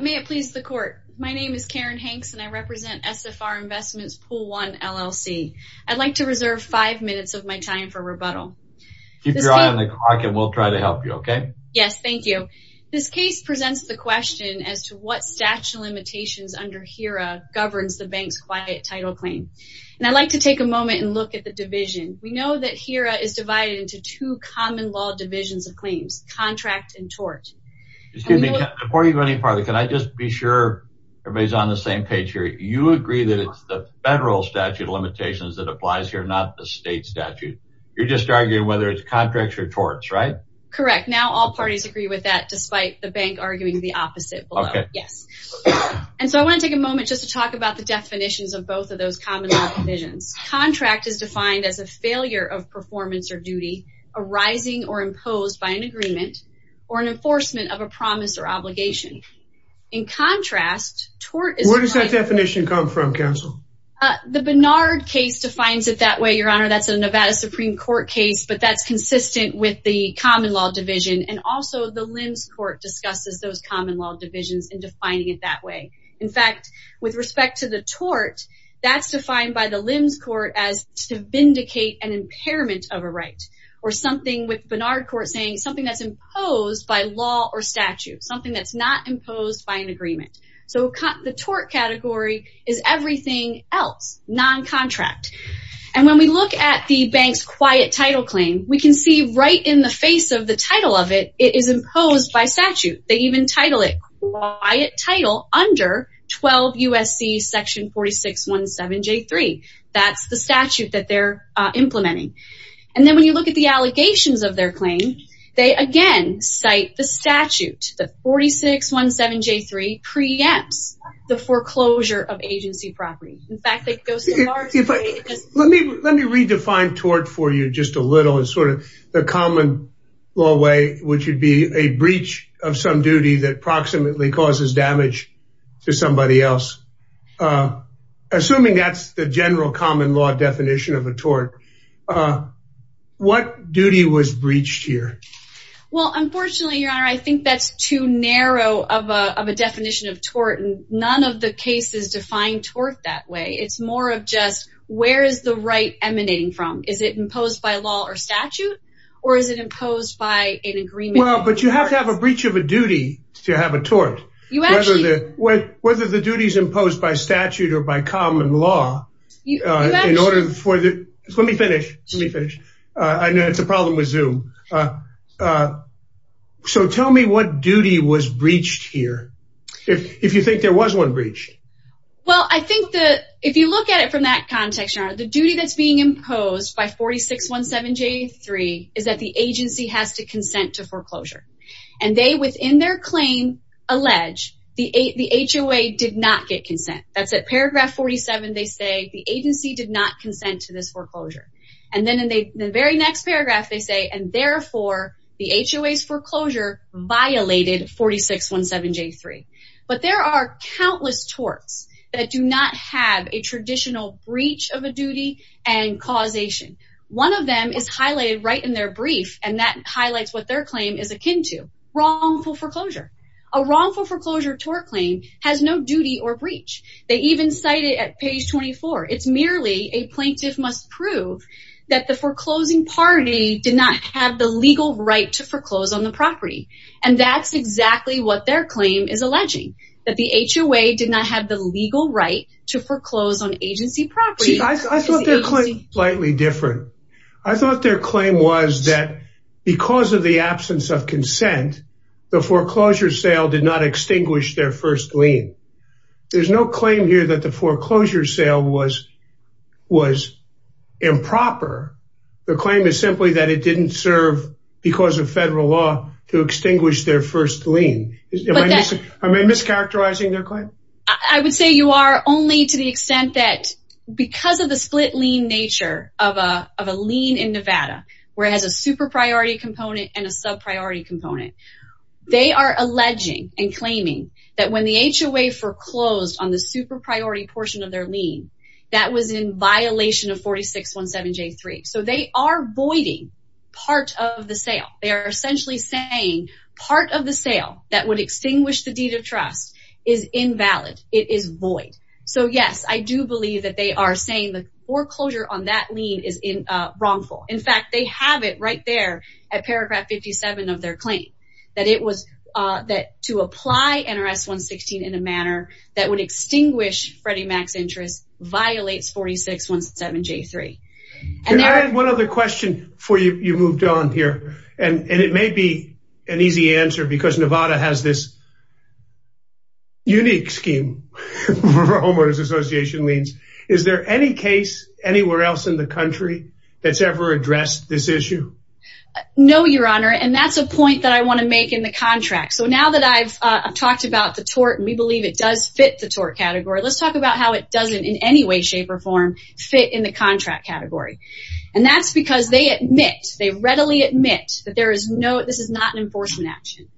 May it please the court. My name is Karen Hanks and I represent SFR Investments Pool 1, LLC. I'd like to reserve five minutes of my time for rebuttal. Keep your eye on the clock and we'll try to help you, okay? Yes, thank you. This case presents the question as to what statute of limitations under HERA governs the bank's quiet title claim. And I'd like to take a moment and look at the division. We know that HERA is divided into two common law divisions of claims, contract and tort. Excuse me, before you go any further, can I just be sure everybody's on the same page here? You agree that it's the federal statute of limitations that applies here, not the state statute. You're just arguing whether it's contracts or torts, right? Correct. Now all parties agree with that, despite the bank arguing the opposite below. Yes. And so I want to take a moment just to talk about the definitions of both of those common law divisions. Contract is defined as a failure of performance or duty arising or enforcement of a promise or obligation. In contrast, tort is- Where does that definition come from, counsel? The Bernard case defines it that way, Your Honor. That's a Nevada Supreme Court case, but that's consistent with the common law division. And also the Limbs Court discusses those common law divisions in defining it that way. In fact, with respect to the tort, that's defined by the Limbs Court as to vindicate an impairment of a right. Or something with Bernard Court saying something that's imposed by law or statute, something that's not imposed by an agreement. So the tort category is everything else, non-contract. And when we look at the bank's quiet title claim, we can see right in the face of the title of it, it is imposed by statute. They even title it quiet title under 12 USC section 4617J3. That's the statute that they're implementing. And then when you look at the allegations of their claim, they again cite the statute. The 4617J3 preempts the foreclosure of agency property. In fact, it goes to large- Let me redefine tort for you just a little. It's sort of the common law way, which would be a breach of some duty that approximately causes damage to somebody else. Assuming that's the general common law definition of a tort, what duty was breached here? Well, unfortunately, your honor, I think that's too narrow of a definition of tort. And none of the cases define tort that way. It's more of just, where is the right emanating from? Is it imposed by law or statute? Or is it imposed by an You actually- Whether the duty is imposed by statute or by common law, in order for the- Let me finish. Let me finish. I know it's a problem with Zoom. So tell me what duty was breached here, if you think there was one breach. Well, I think that if you look at it from that context, your honor, the duty that's being alleged, the HOA did not get consent. That's at paragraph 47, they say, the agency did not consent to this foreclosure. And then in the very next paragraph, they say, and therefore, the HOA's foreclosure violated 4617J3. But there are countless torts that do not have a traditional breach of a duty and causation. One of them is highlighted right in their brief, and that wrongful foreclosure tort claim has no duty or breach. They even cite it at page 24. It's merely a plaintiff must prove that the foreclosing party did not have the legal right to foreclose on the property. And that's exactly what their claim is alleging, that the HOA did not have the legal right to foreclose on agency property. I thought their claim was slightly different. I thought their claim is simply that it did not extinguish their first lien. There's no claim here that the foreclosure sale was improper. The claim is simply that it didn't serve because of federal law to extinguish their first lien. Am I mischaracterizing their claim? I would say you are only to the extent that because of the split lien nature of a lien in Nevada, where it has a super priority component and a sub priority component, they are alleging and claiming that when the HOA foreclosed on the super priority portion of their lien, that was in violation of 4617J3. So they are voiding part of the sale. They are essentially saying part of the sale that would extinguish the deed of trust is invalid. It is void. So yes, I do believe that they are saying the foreclosure on that lien is wrongful. In fact, they have it right there at paragraph 57 of their claim that to apply NRS 116 in a manner that would extinguish Freddie Mac's interest violates 4617J3. Can I add one other question before you moved on here? And it may be an easy answer because Nevada has this unique scheme for homeowners association liens. Is there any case anywhere else in the country that's ever addressed this issue? No, your honor. And that's a point that I want to make in the contract. So now that I've talked about the tort and we believe it does fit the tort category, let's talk about how it doesn't in any way, shape or form fit in the contract category. And that's because they admit, they readily admit that there is no, this is not an enforcement action.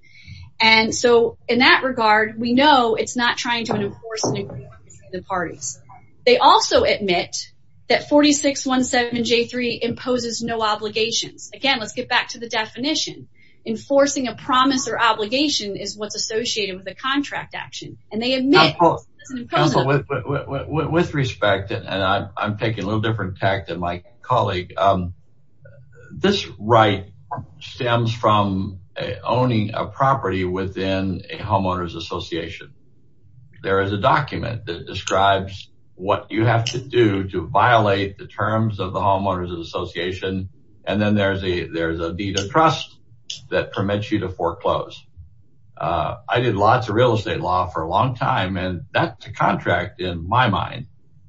And so in that regard, we know it's not trying to enforce the parties. They also admit that 4617J3 imposes no obligations. Again, let's get back to the definition. Enforcing a promise or obligation is what's associated with a contract action. With respect, and I'm taking a little different tact than my colleague, this right stems from owning a property within a homeowners association. There is a document that describes what you have to do to violate the terms of the homeowners association. And then there's a, there's a deed of trust that permits you to foreclose. I did lots of real estate law for a long time and that's a contract in my mind.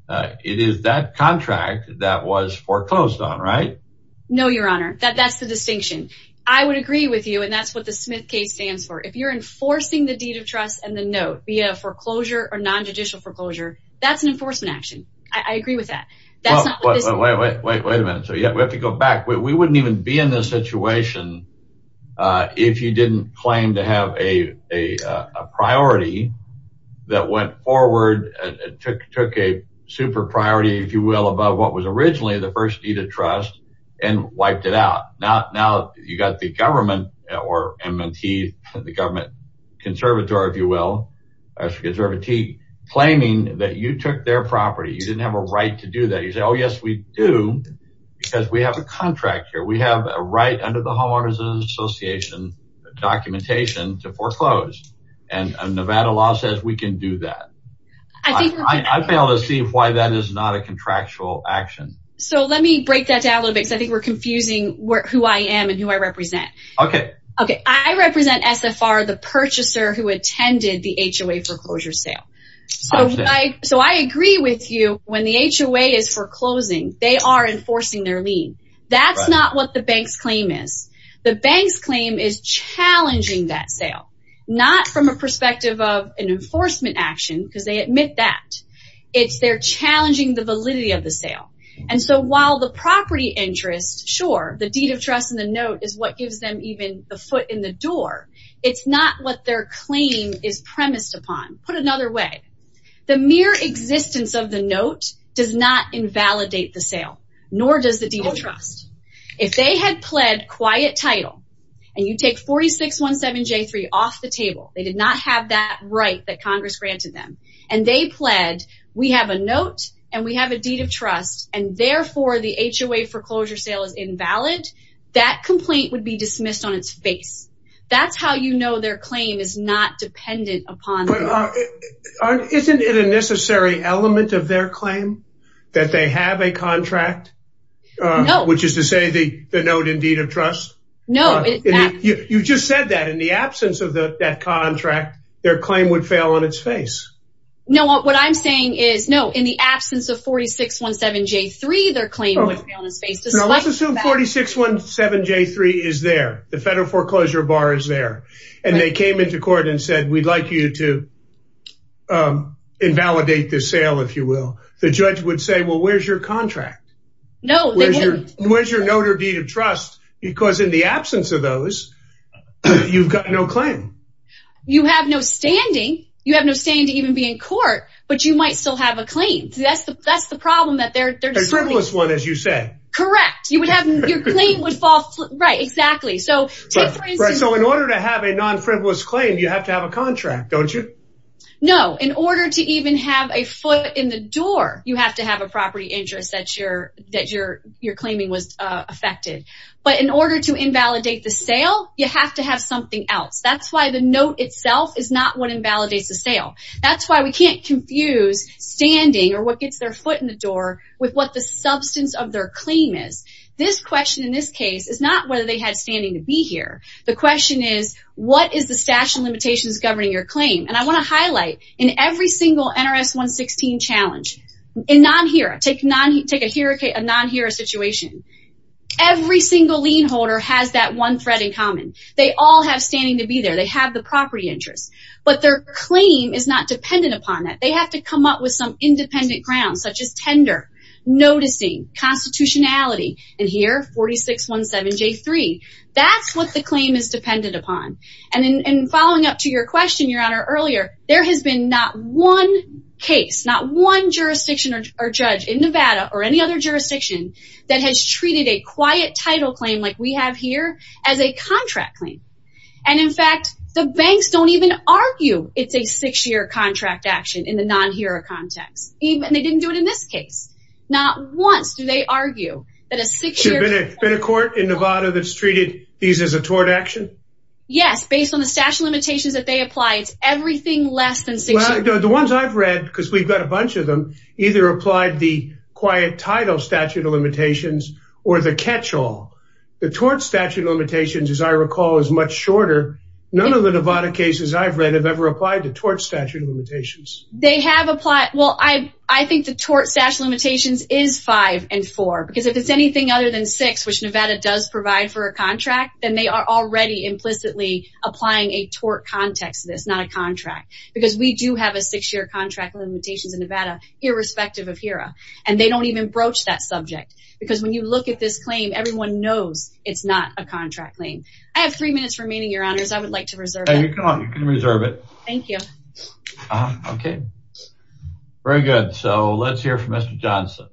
It is that contract that was foreclosed on, right? No, your honor. That's the distinction. I would agree with you. And that's what the Smith case stands for. If you're enforcing the deed of trust and the note via foreclosure or nonjudicial foreclosure, that's an enforcement action. I agree with that. Wait, wait, wait a minute. So yeah, we have to go back. We wouldn't even be in this situation if you didn't claim to have a, a, a priority that went forward and took, took a super priority, if you will, about what was originally the first deed of trust and wiped it out. Now, now you got the government or M&T, the government conservator, if you will, as a conservate claiming that you took their property. You didn't have a right to do that. You say, Oh yes, we do because we have a contract here. We have a right under the homeowners association documentation to foreclose and Nevada law says we can do that. I fail to see why that is not a contractual action. So let me break that down a little bit because I think we're confusing who I am and who I represent. Okay. Okay. I represent SFR, the purchaser who attended the HOA foreclosure sale. So I, so I agree with you when the HOA is foreclosing, they are enforcing their lien. That's not what the bank's claim is. The bank's claim is challenging that sale, not from a perspective of an enforcement action because they admit that it's, they're challenging the validity of the sale. And so while the property interest, sure, the deed of trust and the note is what gives them even the foot in the door. It's not what their claim is premised upon. Put another way, the mere existence of the note does not invalidate the sale, nor does the deal trust. If they had pled quiet title and you take 4617J3 off the table, they did not have that right that Congress granted them and they pled, we have a note and we have a deed of trust and therefore the HOA foreclosure sale is invalid. That complaint would be dismissed on its face. That's how you know their claim is not dependent upon. Isn't it a necessary element of their claim that they have a contract? No. Which is to say the note and deed of trust? No. You just said that in the absence of that contract, their claim would fail on its face. No, what I'm saying is no, in the absence of 4617J3, their claim would fail on its face. Let's assume 4617J3 is there. The federal foreclosure bar is there. And they came into court and said, we'd like you to invalidate this sale, if you will. The judge would say, where's your contract? No, they wouldn't. Where's your note or deed of trust? Because in the absence of those, you've got no claim. You have no standing. You have no standing to even be in court, but you might still have a claim. That's the problem that they're... A frivolous one, as you said. Correct. Your claim would fall. Right, exactly. So in order to have a non-frivolous claim, you have to have a contract, don't you? No. In order to even have a foot in the door, you have to have a property interest that your claiming was affected. But in order to invalidate the sale, you have to have something else. That's why the note itself is not what invalidates the sale. That's why we can't confuse standing, or what gets their foot in the door, with what the substance of their claim is. This question, in this case, is not whether they had standing to be here. The question is, what is the statute of limitations governing your claim? I want to highlight, in every single NRS 116 challenge, in non-HERA, take a non-HERA situation, every single lien holder has that one threat in common. They all have standing to be there. They have the property interest. But their claim is not dependent upon that. They have to come up with some independent grounds, such as tender, noticing, constitutionality, and here, 4617J3. That's what the claim is dependent upon. And following up to your question, Your Honor, earlier, there has been not one case, not one jurisdiction or judge in Nevada, or any other jurisdiction, that has treated a quiet title claim like we have here as a contract claim. And in fact, the banks don't even argue it's a six-year contract action in the non-HERA context. And they didn't do it in this case. Not once do they argue that a six-year... Has there been a court in Nevada that's treated these as a tort action? Yes, based on the statute of limitations that they apply, it's everything less than six years. The ones I've read, because we've got a bunch of them, either applied the quiet title statute of limitations or the catch-all. The tort statute of limitations, as I recall, is much shorter. None of the Nevada cases I've read have ever applied the tort statute of limitations. They have applied... Well, I think the tort statute of limitations is five and four. Because if it's anything other than six, which Nevada does provide for a contract, then they are already implicitly applying a tort context to this, not a contract. Because we do have a six-year contract limitations in Nevada, irrespective of HERA. And they don't even broach that subject. Because when you look at this claim, everyone knows it's not a contract claim. I have three minutes remaining, Your Honors. I would like to reserve it. You can reserve it. Thank you. Okay. Very good. So let's hear from Mr. Johnson.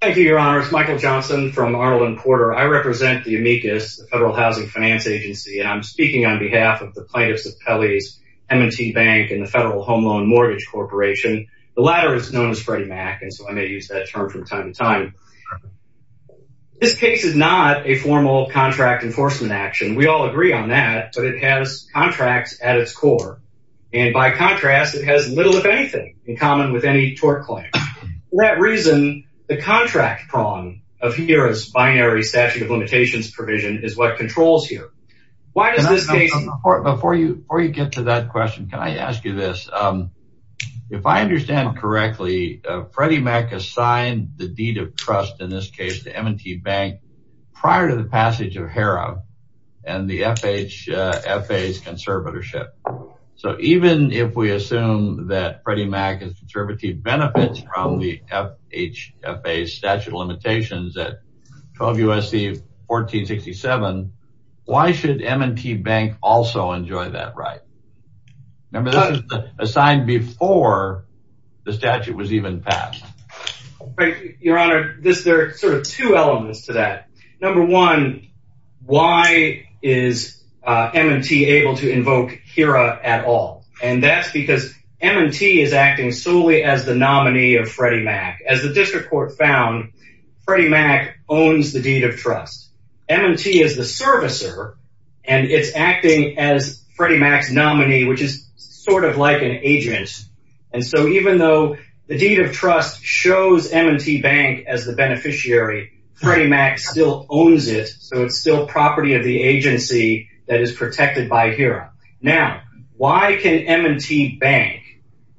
Thank you, Your Honors. Michael Johnson from Arnold and Porter. I represent the amicus, the Federal Housing Finance Agency, and I'm speaking on behalf of the plaintiffs of Pelley's M&T Bank and the Federal Home Loan Mortgage Corporation. The latter is known as Freddie Mac, and so I may use that term from time to time. This case is not a formal contract enforcement action. We all agree on that, but it has contracts at its core. And by contrast, it has little, if anything, in common with any tort claim. For that reason, the contract prong of HERA's binary statute of limitations provision is what controls HERA. Why does this case— Before you get to that question, can I ask you this? If I understand correctly, Freddie Mac assigned the deed of trust, in this case the M&T Bank, prior to the passage of HERA and the FHA's conservatorship. So even if we assume that Freddie Mac's conservative benefits from the FHA's statute of limitations at 12 U.S.C. 1467, why should M&T Bank also enjoy that right? Remember, this is assigned before the statute was even passed. Your Honor, there are sort of two elements to that. Number one, why is M&T able to invoke HERA at all? And that's because M&T is acting solely as the nominee of Freddie Mac. As the district court found, Freddie Mac owns the deed of trust. M&T is the servicer, and it's acting as Freddie Mac's nominee, which is sort of like an agent. And so even though the deed of trust shows M&T Bank as the beneficiary, Freddie Mac still owns it, so it's still property of the agency that is protected by HERA. Now, why can M&T Bank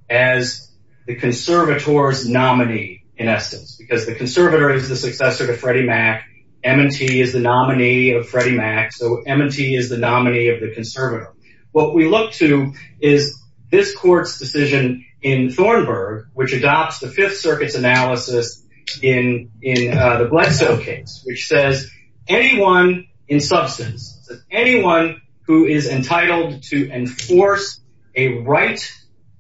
as the conservator's nominee, in essence? Because the conservator is the successor to Freddie Mac, M&T is the nominee of Freddie Mac, so M&T is the successor to Freddie Mac. So what we look to is this court's decision in Thornburg, which adopts the Fifth Circuit's analysis in the Bledsoe case, which says anyone in substance, anyone who is entitled to enforce a right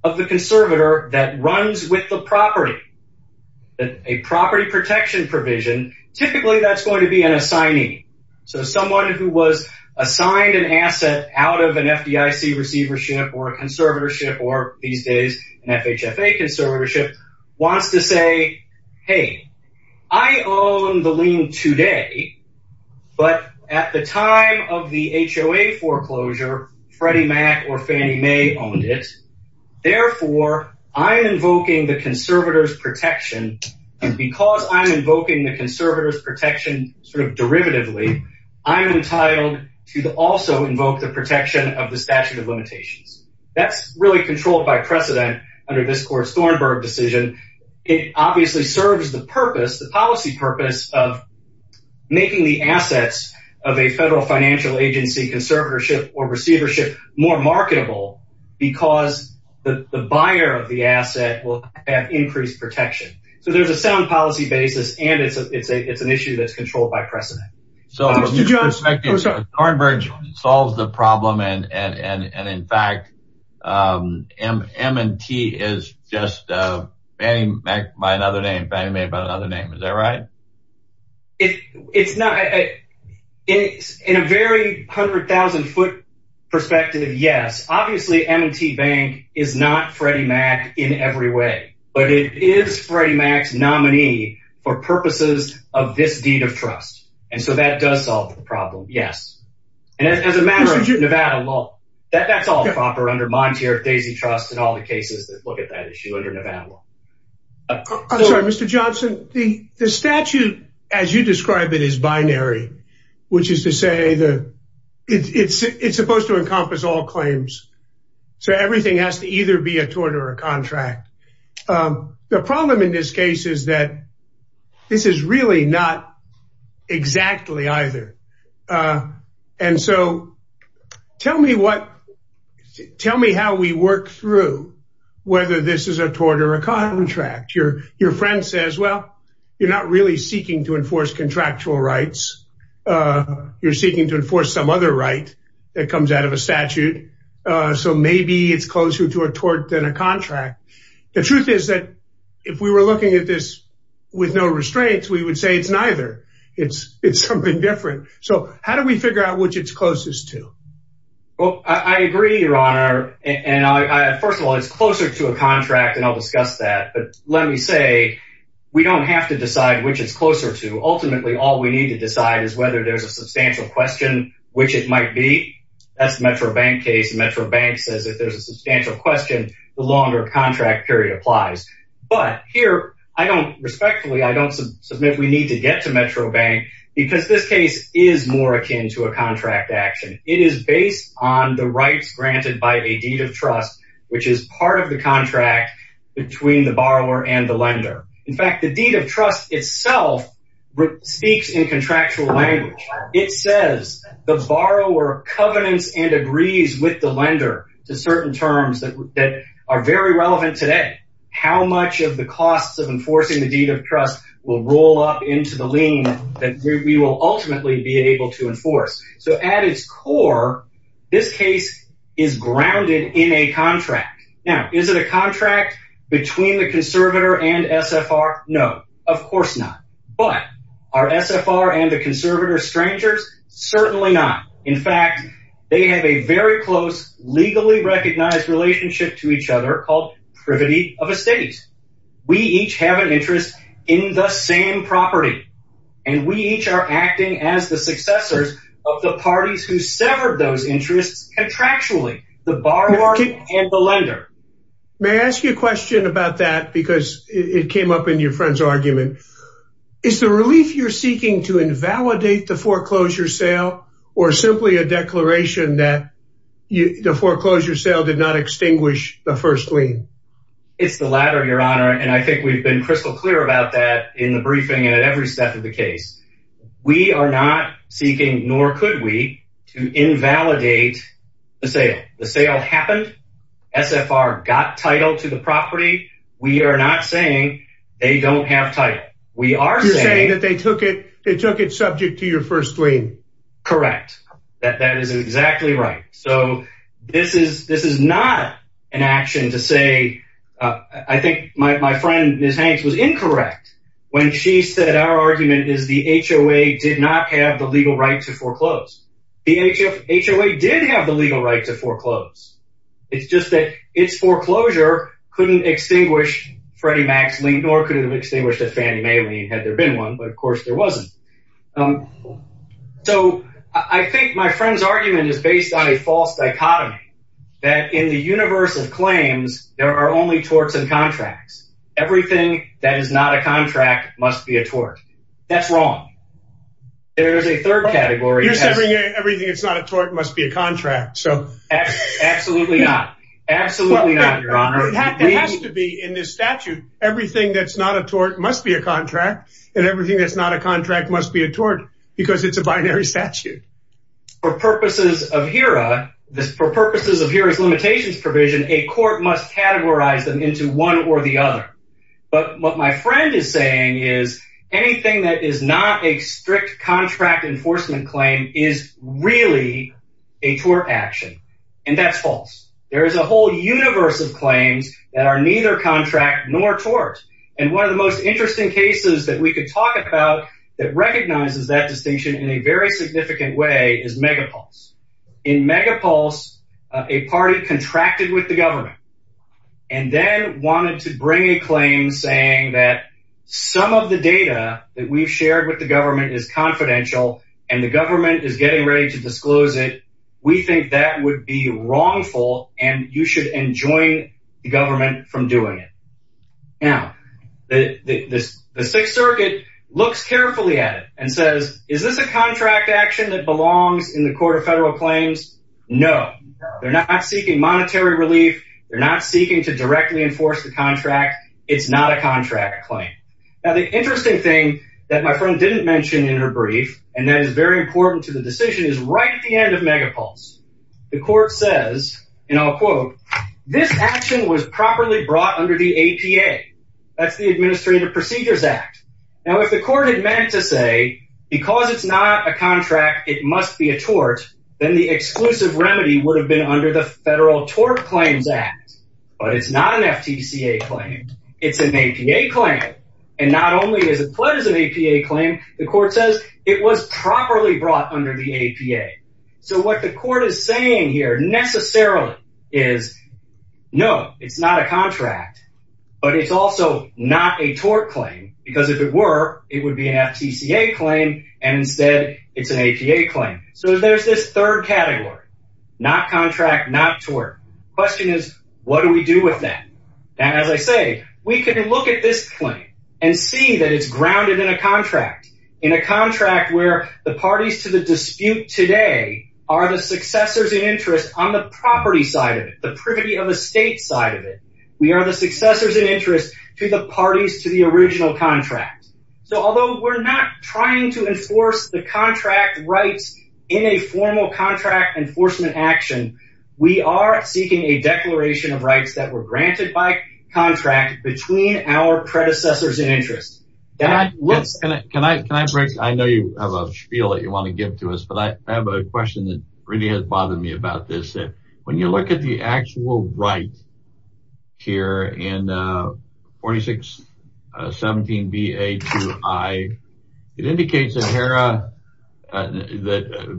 of the conservator that runs with the property, a property protection provision, typically that's going to be an assignee. So someone who was assigned an asset out of an FDIC receivership or a conservatorship, or these days an FHFA conservatorship, wants to say, hey, I own the lien today, but at the time of the HOA foreclosure, Freddie Mac or Fannie Mae owned it, therefore I'm invoking the conservator's protection, and because I'm invoking the conservator's protection sort of derivatively, I'm entitled to also invoke the protection of the statute of limitations. That's really controlled by precedent under this court's Thornburg decision. It obviously serves the purpose, the policy purpose, of making the assets of a federal financial agency conservatorship or receivership more marketable because the buyer of the asset will have increased protection. So there's a sound policy basis and it's an issue that's controlled by precedent. So Thornburg solves the problem and in fact M&T is just Fannie Mae by another name, is that right? In a very hundred thousand foot perspective, yes. Obviously M&T Bank is not Freddie Mac in every way, but it is Freddie Mac's nominee for purposes of this deed of trust, and so that does solve the problem, yes. And as a matter of Nevada law, that's all proper under my tier of Daisy Trust and all the cases that look at that issue under Nevada law. I'm sorry, Mr. Johnson, the statute as you describe it is binary, which is to say that it's supposed to encompass all claims, so everything has to either be a tort or a contract. The problem in this case is that this is really not exactly either, and so tell me how we work through whether this is a tort or a contract. Your friend says, well, you're not really seeking to enforce contractual rights, you're seeking to enforce some other right that comes out of a contract. The truth is that if we were looking at this with no restraints, we would say it's neither. It's something different. So how do we figure out which it's closest to? Well, I agree, your honor, and first of all, it's closer to a contract, and I'll discuss that, but let me say we don't have to decide which it's closer to. Ultimately, all we need to decide is whether there's a substantial question which it might be. That's the Metro Bank case. Metro Bank says if there's a substantial question, the longer contract period applies. But here, I don't, respectfully, I don't submit we need to get to Metro Bank because this case is more akin to a contract action. It is based on the rights granted by a deed of trust, which is part of the contract between the borrower and the lender. In fact, the deed of trust itself speaks in contractual language. It says the borrower covenants and agrees with the lender to certain terms that that are very relevant today. How much of the costs of enforcing the deed of trust will roll up into the lien that we will ultimately be able to enforce? So at its core, this case is grounded in a contract. Now, is it a contract between the conservator and SFR? No, of course not. But our SFR and the certainly not. In fact, they have a very close, legally recognized relationship to each other called privity of estates. We each have an interest in the same property. And we each are acting as the successors of the parties who severed those interests contractually, the borrower and the lender. May I ask you a question about that? Because it came up in your friend's argument. Is the relief you're seeking to invalidate the foreclosure sale or simply a declaration that the foreclosure sale did not extinguish the first lien? It's the latter, your honor. And I think we've been crystal clear about that in the briefing and at every step of the case. We are not seeking, nor could we, to invalidate the sale. The sale happened. SFR got title to the property. We are not saying they don't have title. You're saying that they took it subject to your first lien. Correct. That is exactly right. So this is not an action to say, I think my friend, Ms. Hanks, was incorrect when she said our argument is the HOA did not have the legal right to foreclose. The HOA did have the legal right to foreclose. It's just that its foreclosure couldn't extinguish Freddie Mac's lien, nor could it have extinguished a Fannie Mae lien, had there been one. But of course there wasn't. So I think my friend's argument is based on a false dichotomy that in the universe of claims, there are only torts and contracts. Everything that is not a contract must be a tort. That's wrong. There is a third category. You're saying everything that's not a tort must be a contract. Absolutely not. Absolutely not, your honor. It has to be in this statute. Everything that's not a tort must be a contract, and everything that's not a contract must be a tort, because it's a binary statute. For purposes of HERA's limitations provision, a court must categorize them into one or the other. But what my friend is saying is anything that is not a strict contract enforcement claim is really a tort action, and that's false. There is a whole universe of claims that are neither contract nor tort, and one of the most interesting cases that we could talk about that recognizes that distinction in a very significant way is Megapulse. In Megapulse, a party contracted with the government and then wanted to bring a claim saying that some of the data that we've shared with the government is confidential, and the government is getting ready to disclose it, we think that would be wrongful, and you should enjoin the government from doing it. Now, the Sixth Circuit looks carefully at it and says, is this a contract action that belongs in the Court of Federal Claims? No. They're not seeking monetary relief. They're not seeking to directly enforce the contract. It's not a contract claim. Now, the interesting thing that my friend didn't mention in her brief, and that is very important to the decision, is right at the end of Megapulse, the court says, and I'll quote, this action was properly brought under the APA. That's the Administrative Procedures Act. Now, if the court had meant to say, because it's not a contract, it must be a tort, then the exclusive remedy would have been under the Federal Tort Claim. The court says it was properly brought under the APA. So, what the court is saying here necessarily is, no, it's not a contract, but it's also not a tort claim, because if it were, it would be an FTCA claim, and instead, it's an APA claim. So, there's this third category, not contract, not tort. Question is, what do we do with that? And as I say, we can look at this claim and see that it's grounded in a contract, in a contract where the parties to the dispute today are the successors in interest on the property side of it, the privity of estate side of it. We are the successors in interest to the parties to the original contract. So, although we're not trying to enforce the contract rights in a formal contract enforcement action, we are seeking a contract. I know you have a spiel that you want to give to us, but I have a question that really has bothered me about this. When you look at the actual right here in 4617BA2I, it indicates in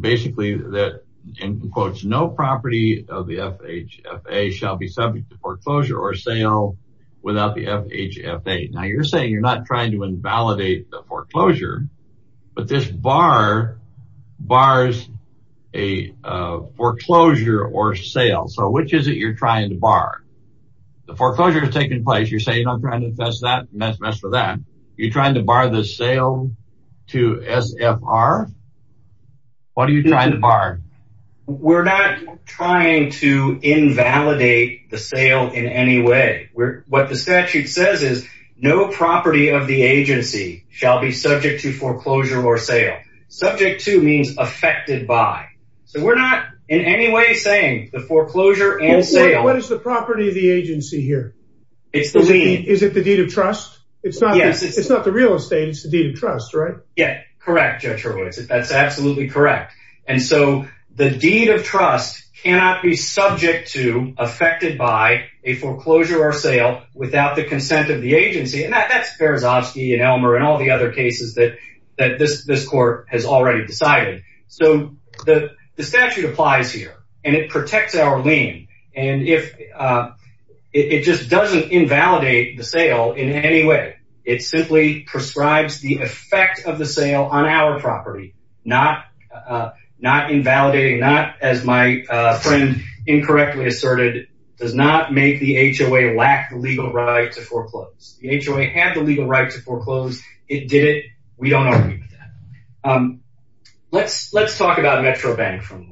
basically that, in quotes, no property of the FHFA shall be subject to foreclosure or sale without the FHFA. Now, you're saying you're not trying to invalidate the foreclosure, but this bar bars a foreclosure or sale. So, which is it you're trying to bar? The foreclosure is taking place. You're saying I'm trying to infest that, mess with that. You're trying to bar the sale to SFR? What are you trying to bar? We're not trying to invalidate the sale in any way. What the statute says is, no property of the agency shall be subject to foreclosure or sale. Subject to means affected by. So, we're not in any way saying the foreclosure and sale. What is the property of the agency here? It's the lien. Is it the deed of trust? It's not the real estate, it's the deed of trust, right? Yeah, correct, Judge Hurwitz. That's absolutely correct. And so, the deed of trust cannot be subject to, affected by, a foreclosure or sale without the consent of the agency. And that's Berezovsky and Elmer and all the other cases that this court has already decided. So, the statute applies here, and it protects our lien. And it just doesn't invalidate the sale in any way. It simply prescribes the effect of the sale on our property. Not invalidating, not, as my friend incorrectly asserted, does not make the HOA lack the legal right to foreclose. The HOA had the legal right to foreclose. It did it. We don't argue with that. Let's talk about Metro Bank for a moment.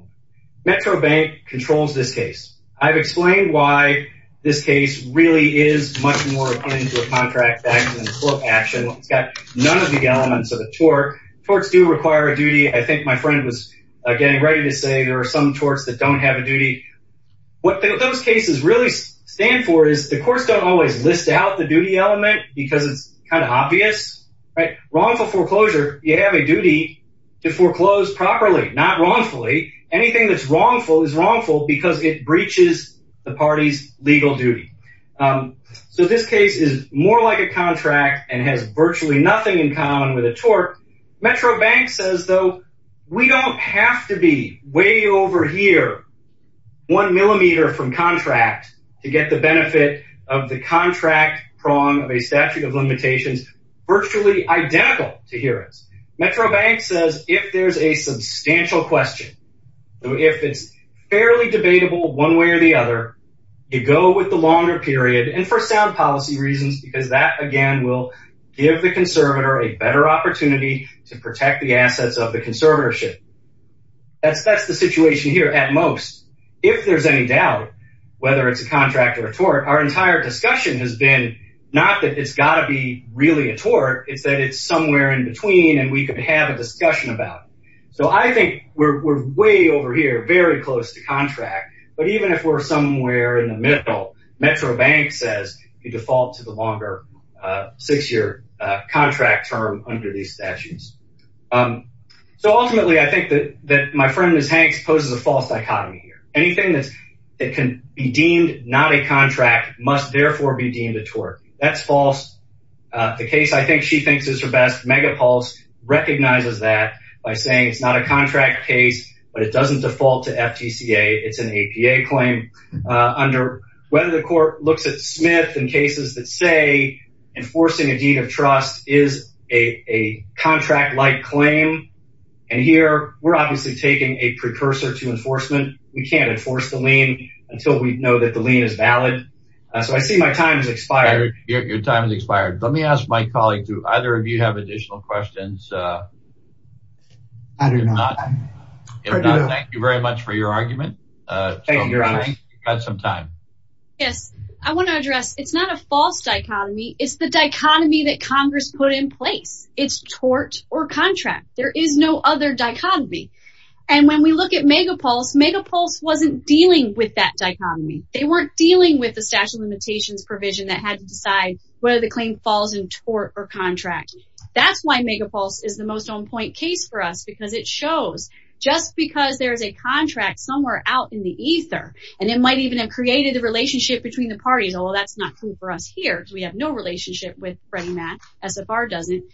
Metro Bank controls this case. I've explained why this case really is much more akin to a contract action than a full action. It's got none of the elements of a tort. Torts do require a duty. I think my friend was, again, ready to say there are some torts that don't have a duty. What those cases really stand for is the courts don't always list out the duty element because it's kind of obvious, right? Wrongful foreclosure, you have a duty to foreclose properly, not is wrongful because it breaches the party's legal duty. So this case is more like a contract and has virtually nothing in common with a tort. Metro Bank says, though, we don't have to be way over here, one millimeter from contract to get the benefit of the contract prong of a statute of limitations, virtually identical to here. Metro Bank says if there's a substantial question, if it's fairly debatable one way or the other, you go with the longer period and for sound policy reasons, because that, again, will give the conservator a better opportunity to protect the assets of the conservatorship. That's the situation here at most. If there's any doubt, whether it's a contract or a tort, our entire discussion has been not that it's got to be really a tort, it's that it's somewhere in between and we could have a discussion about. So I think we're way over here, very close to contract, but even if we're somewhere in the middle, Metro Bank says you default to the longer six-year contract term under these statutes. So ultimately, I think that my friend, Ms. Hanks, poses a false dichotomy here. Anything that can be deemed not a contract must therefore be deemed a tort. That's false. The case I think she thinks is her best, Megapulse, recognizes that by saying it's not a contract case, but it doesn't default to FTCA. It's an APA claim under whether the court looks at Smith and cases that say enforcing a deed of trust is a contract-like claim. And here, we're obviously taking a precursor to enforcement. We can't enforce the lien until we know that the lien is valid. So I see my time has expired. Your time has expired. Let me ask my colleague, do either of you have additional questions? I do not. If not, thank you very much for your argument. Thank you, Your Honor. You've got some time. Yes. I want to address, it's not a false dichotomy. It's the dichotomy that Congress put in place. It's tort or contract. There is no other dichotomy. And when we look at Megapulse, Megapulse wasn't dealing with that dichotomy. They weren't dealing with the statute of limitations provision that had to decide whether the claim falls in tort or contract. That's why Megapulse is the most on-point case for us because it shows, just because there's a contract somewhere out in the ether, and it might even have created a relationship between the parties, although that's not true for us here because we have no relationship with Freddie Mac, SFR doesn't,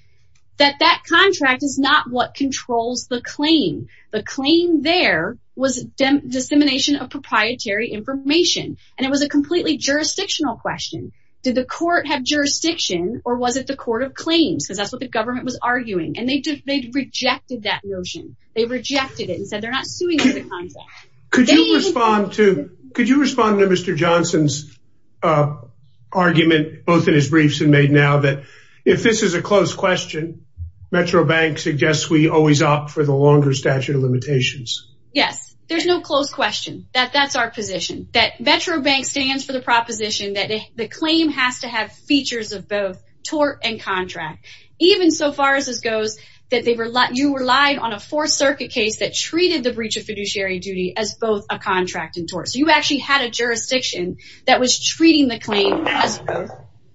that that contract is not what controls the claim. The claim there was dissemination of proprietary information. And it was a completely jurisdictional question. Did the court have jurisdiction or was it the court of claims? Because that's what the government was arguing. And they rejected that notion. They rejected it and said they're not suing under the contract. Could you respond to Mr. Johnson's argument, both in his briefs and made now, that if this is a close question, Metro Bank suggests we always opt for the longer statute of limitations? Yes, there's no close question that that's our position, that Metro Bank stands for the proposition that the claim has to have features of both tort and contract. Even so far as this goes, that you relied on a Fourth Circuit case that treated the breach of fiduciary duty as both a contract and tort. So you actually had a jurisdiction that was treating the claim as both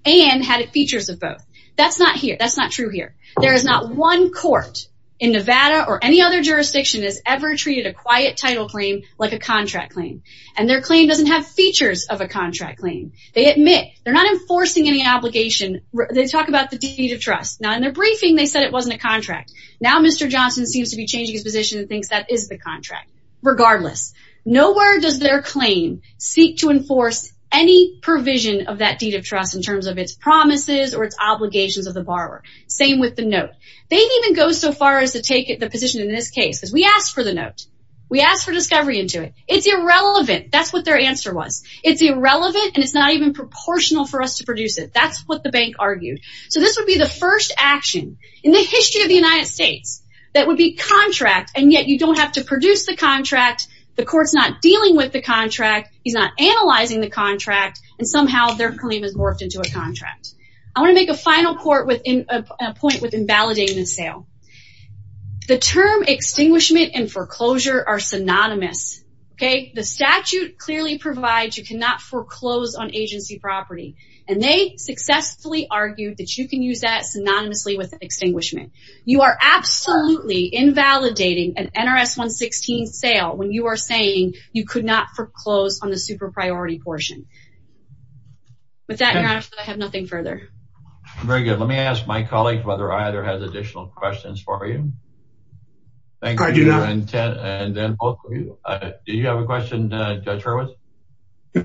and had features of both. That's not here. That's not true here. There is not one court in Nevada or any other jurisdiction has ever treated a quiet title claim like a contract claim. And their claim doesn't have features of a contract claim. They admit they're not enforcing any obligation. They talk about the deed of trust. Now in their briefing, they said it wasn't a contract. Now Mr. Johnson seems to be changing his position and thinks that is the contract. Regardless, nowhere does their claim seek to enforce any provision of that deed of trust in terms of its promises or its obligations of the borrower. Same with the note. They didn't even go so far as to take the position in this case because we asked for the note. We asked for discovery into it. It's irrelevant. That's what their answer was. It's irrelevant and it's not even proportional for us to produce it. That's what the bank argued. So this would be the first action in the history of the United States that would be contract and yet you don't have to produce the contract. The court's not dealing with the contract. He's not analyzing the contract and somehow their claim is morphed into a contract. I want to make a final point with invalidating the sale. The term extinguishment and foreclosure are synonymous. The statute clearly provides you cannot foreclose on agency property and they successfully argued that you can use that synonymously with sale when you are saying you could not foreclose on the super priority portion. With that, your honor, I have nothing further. Very good. Let me ask my colleague whether either has additional questions for you. I do not. And then both of you. Do you have a question, Judge Hurwitz?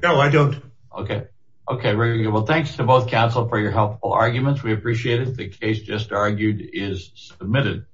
No, I don't. Okay. Okay. Very good. Well, thanks to both counsel for your helpful arguments. We appreciate it. The case just argued is submitted.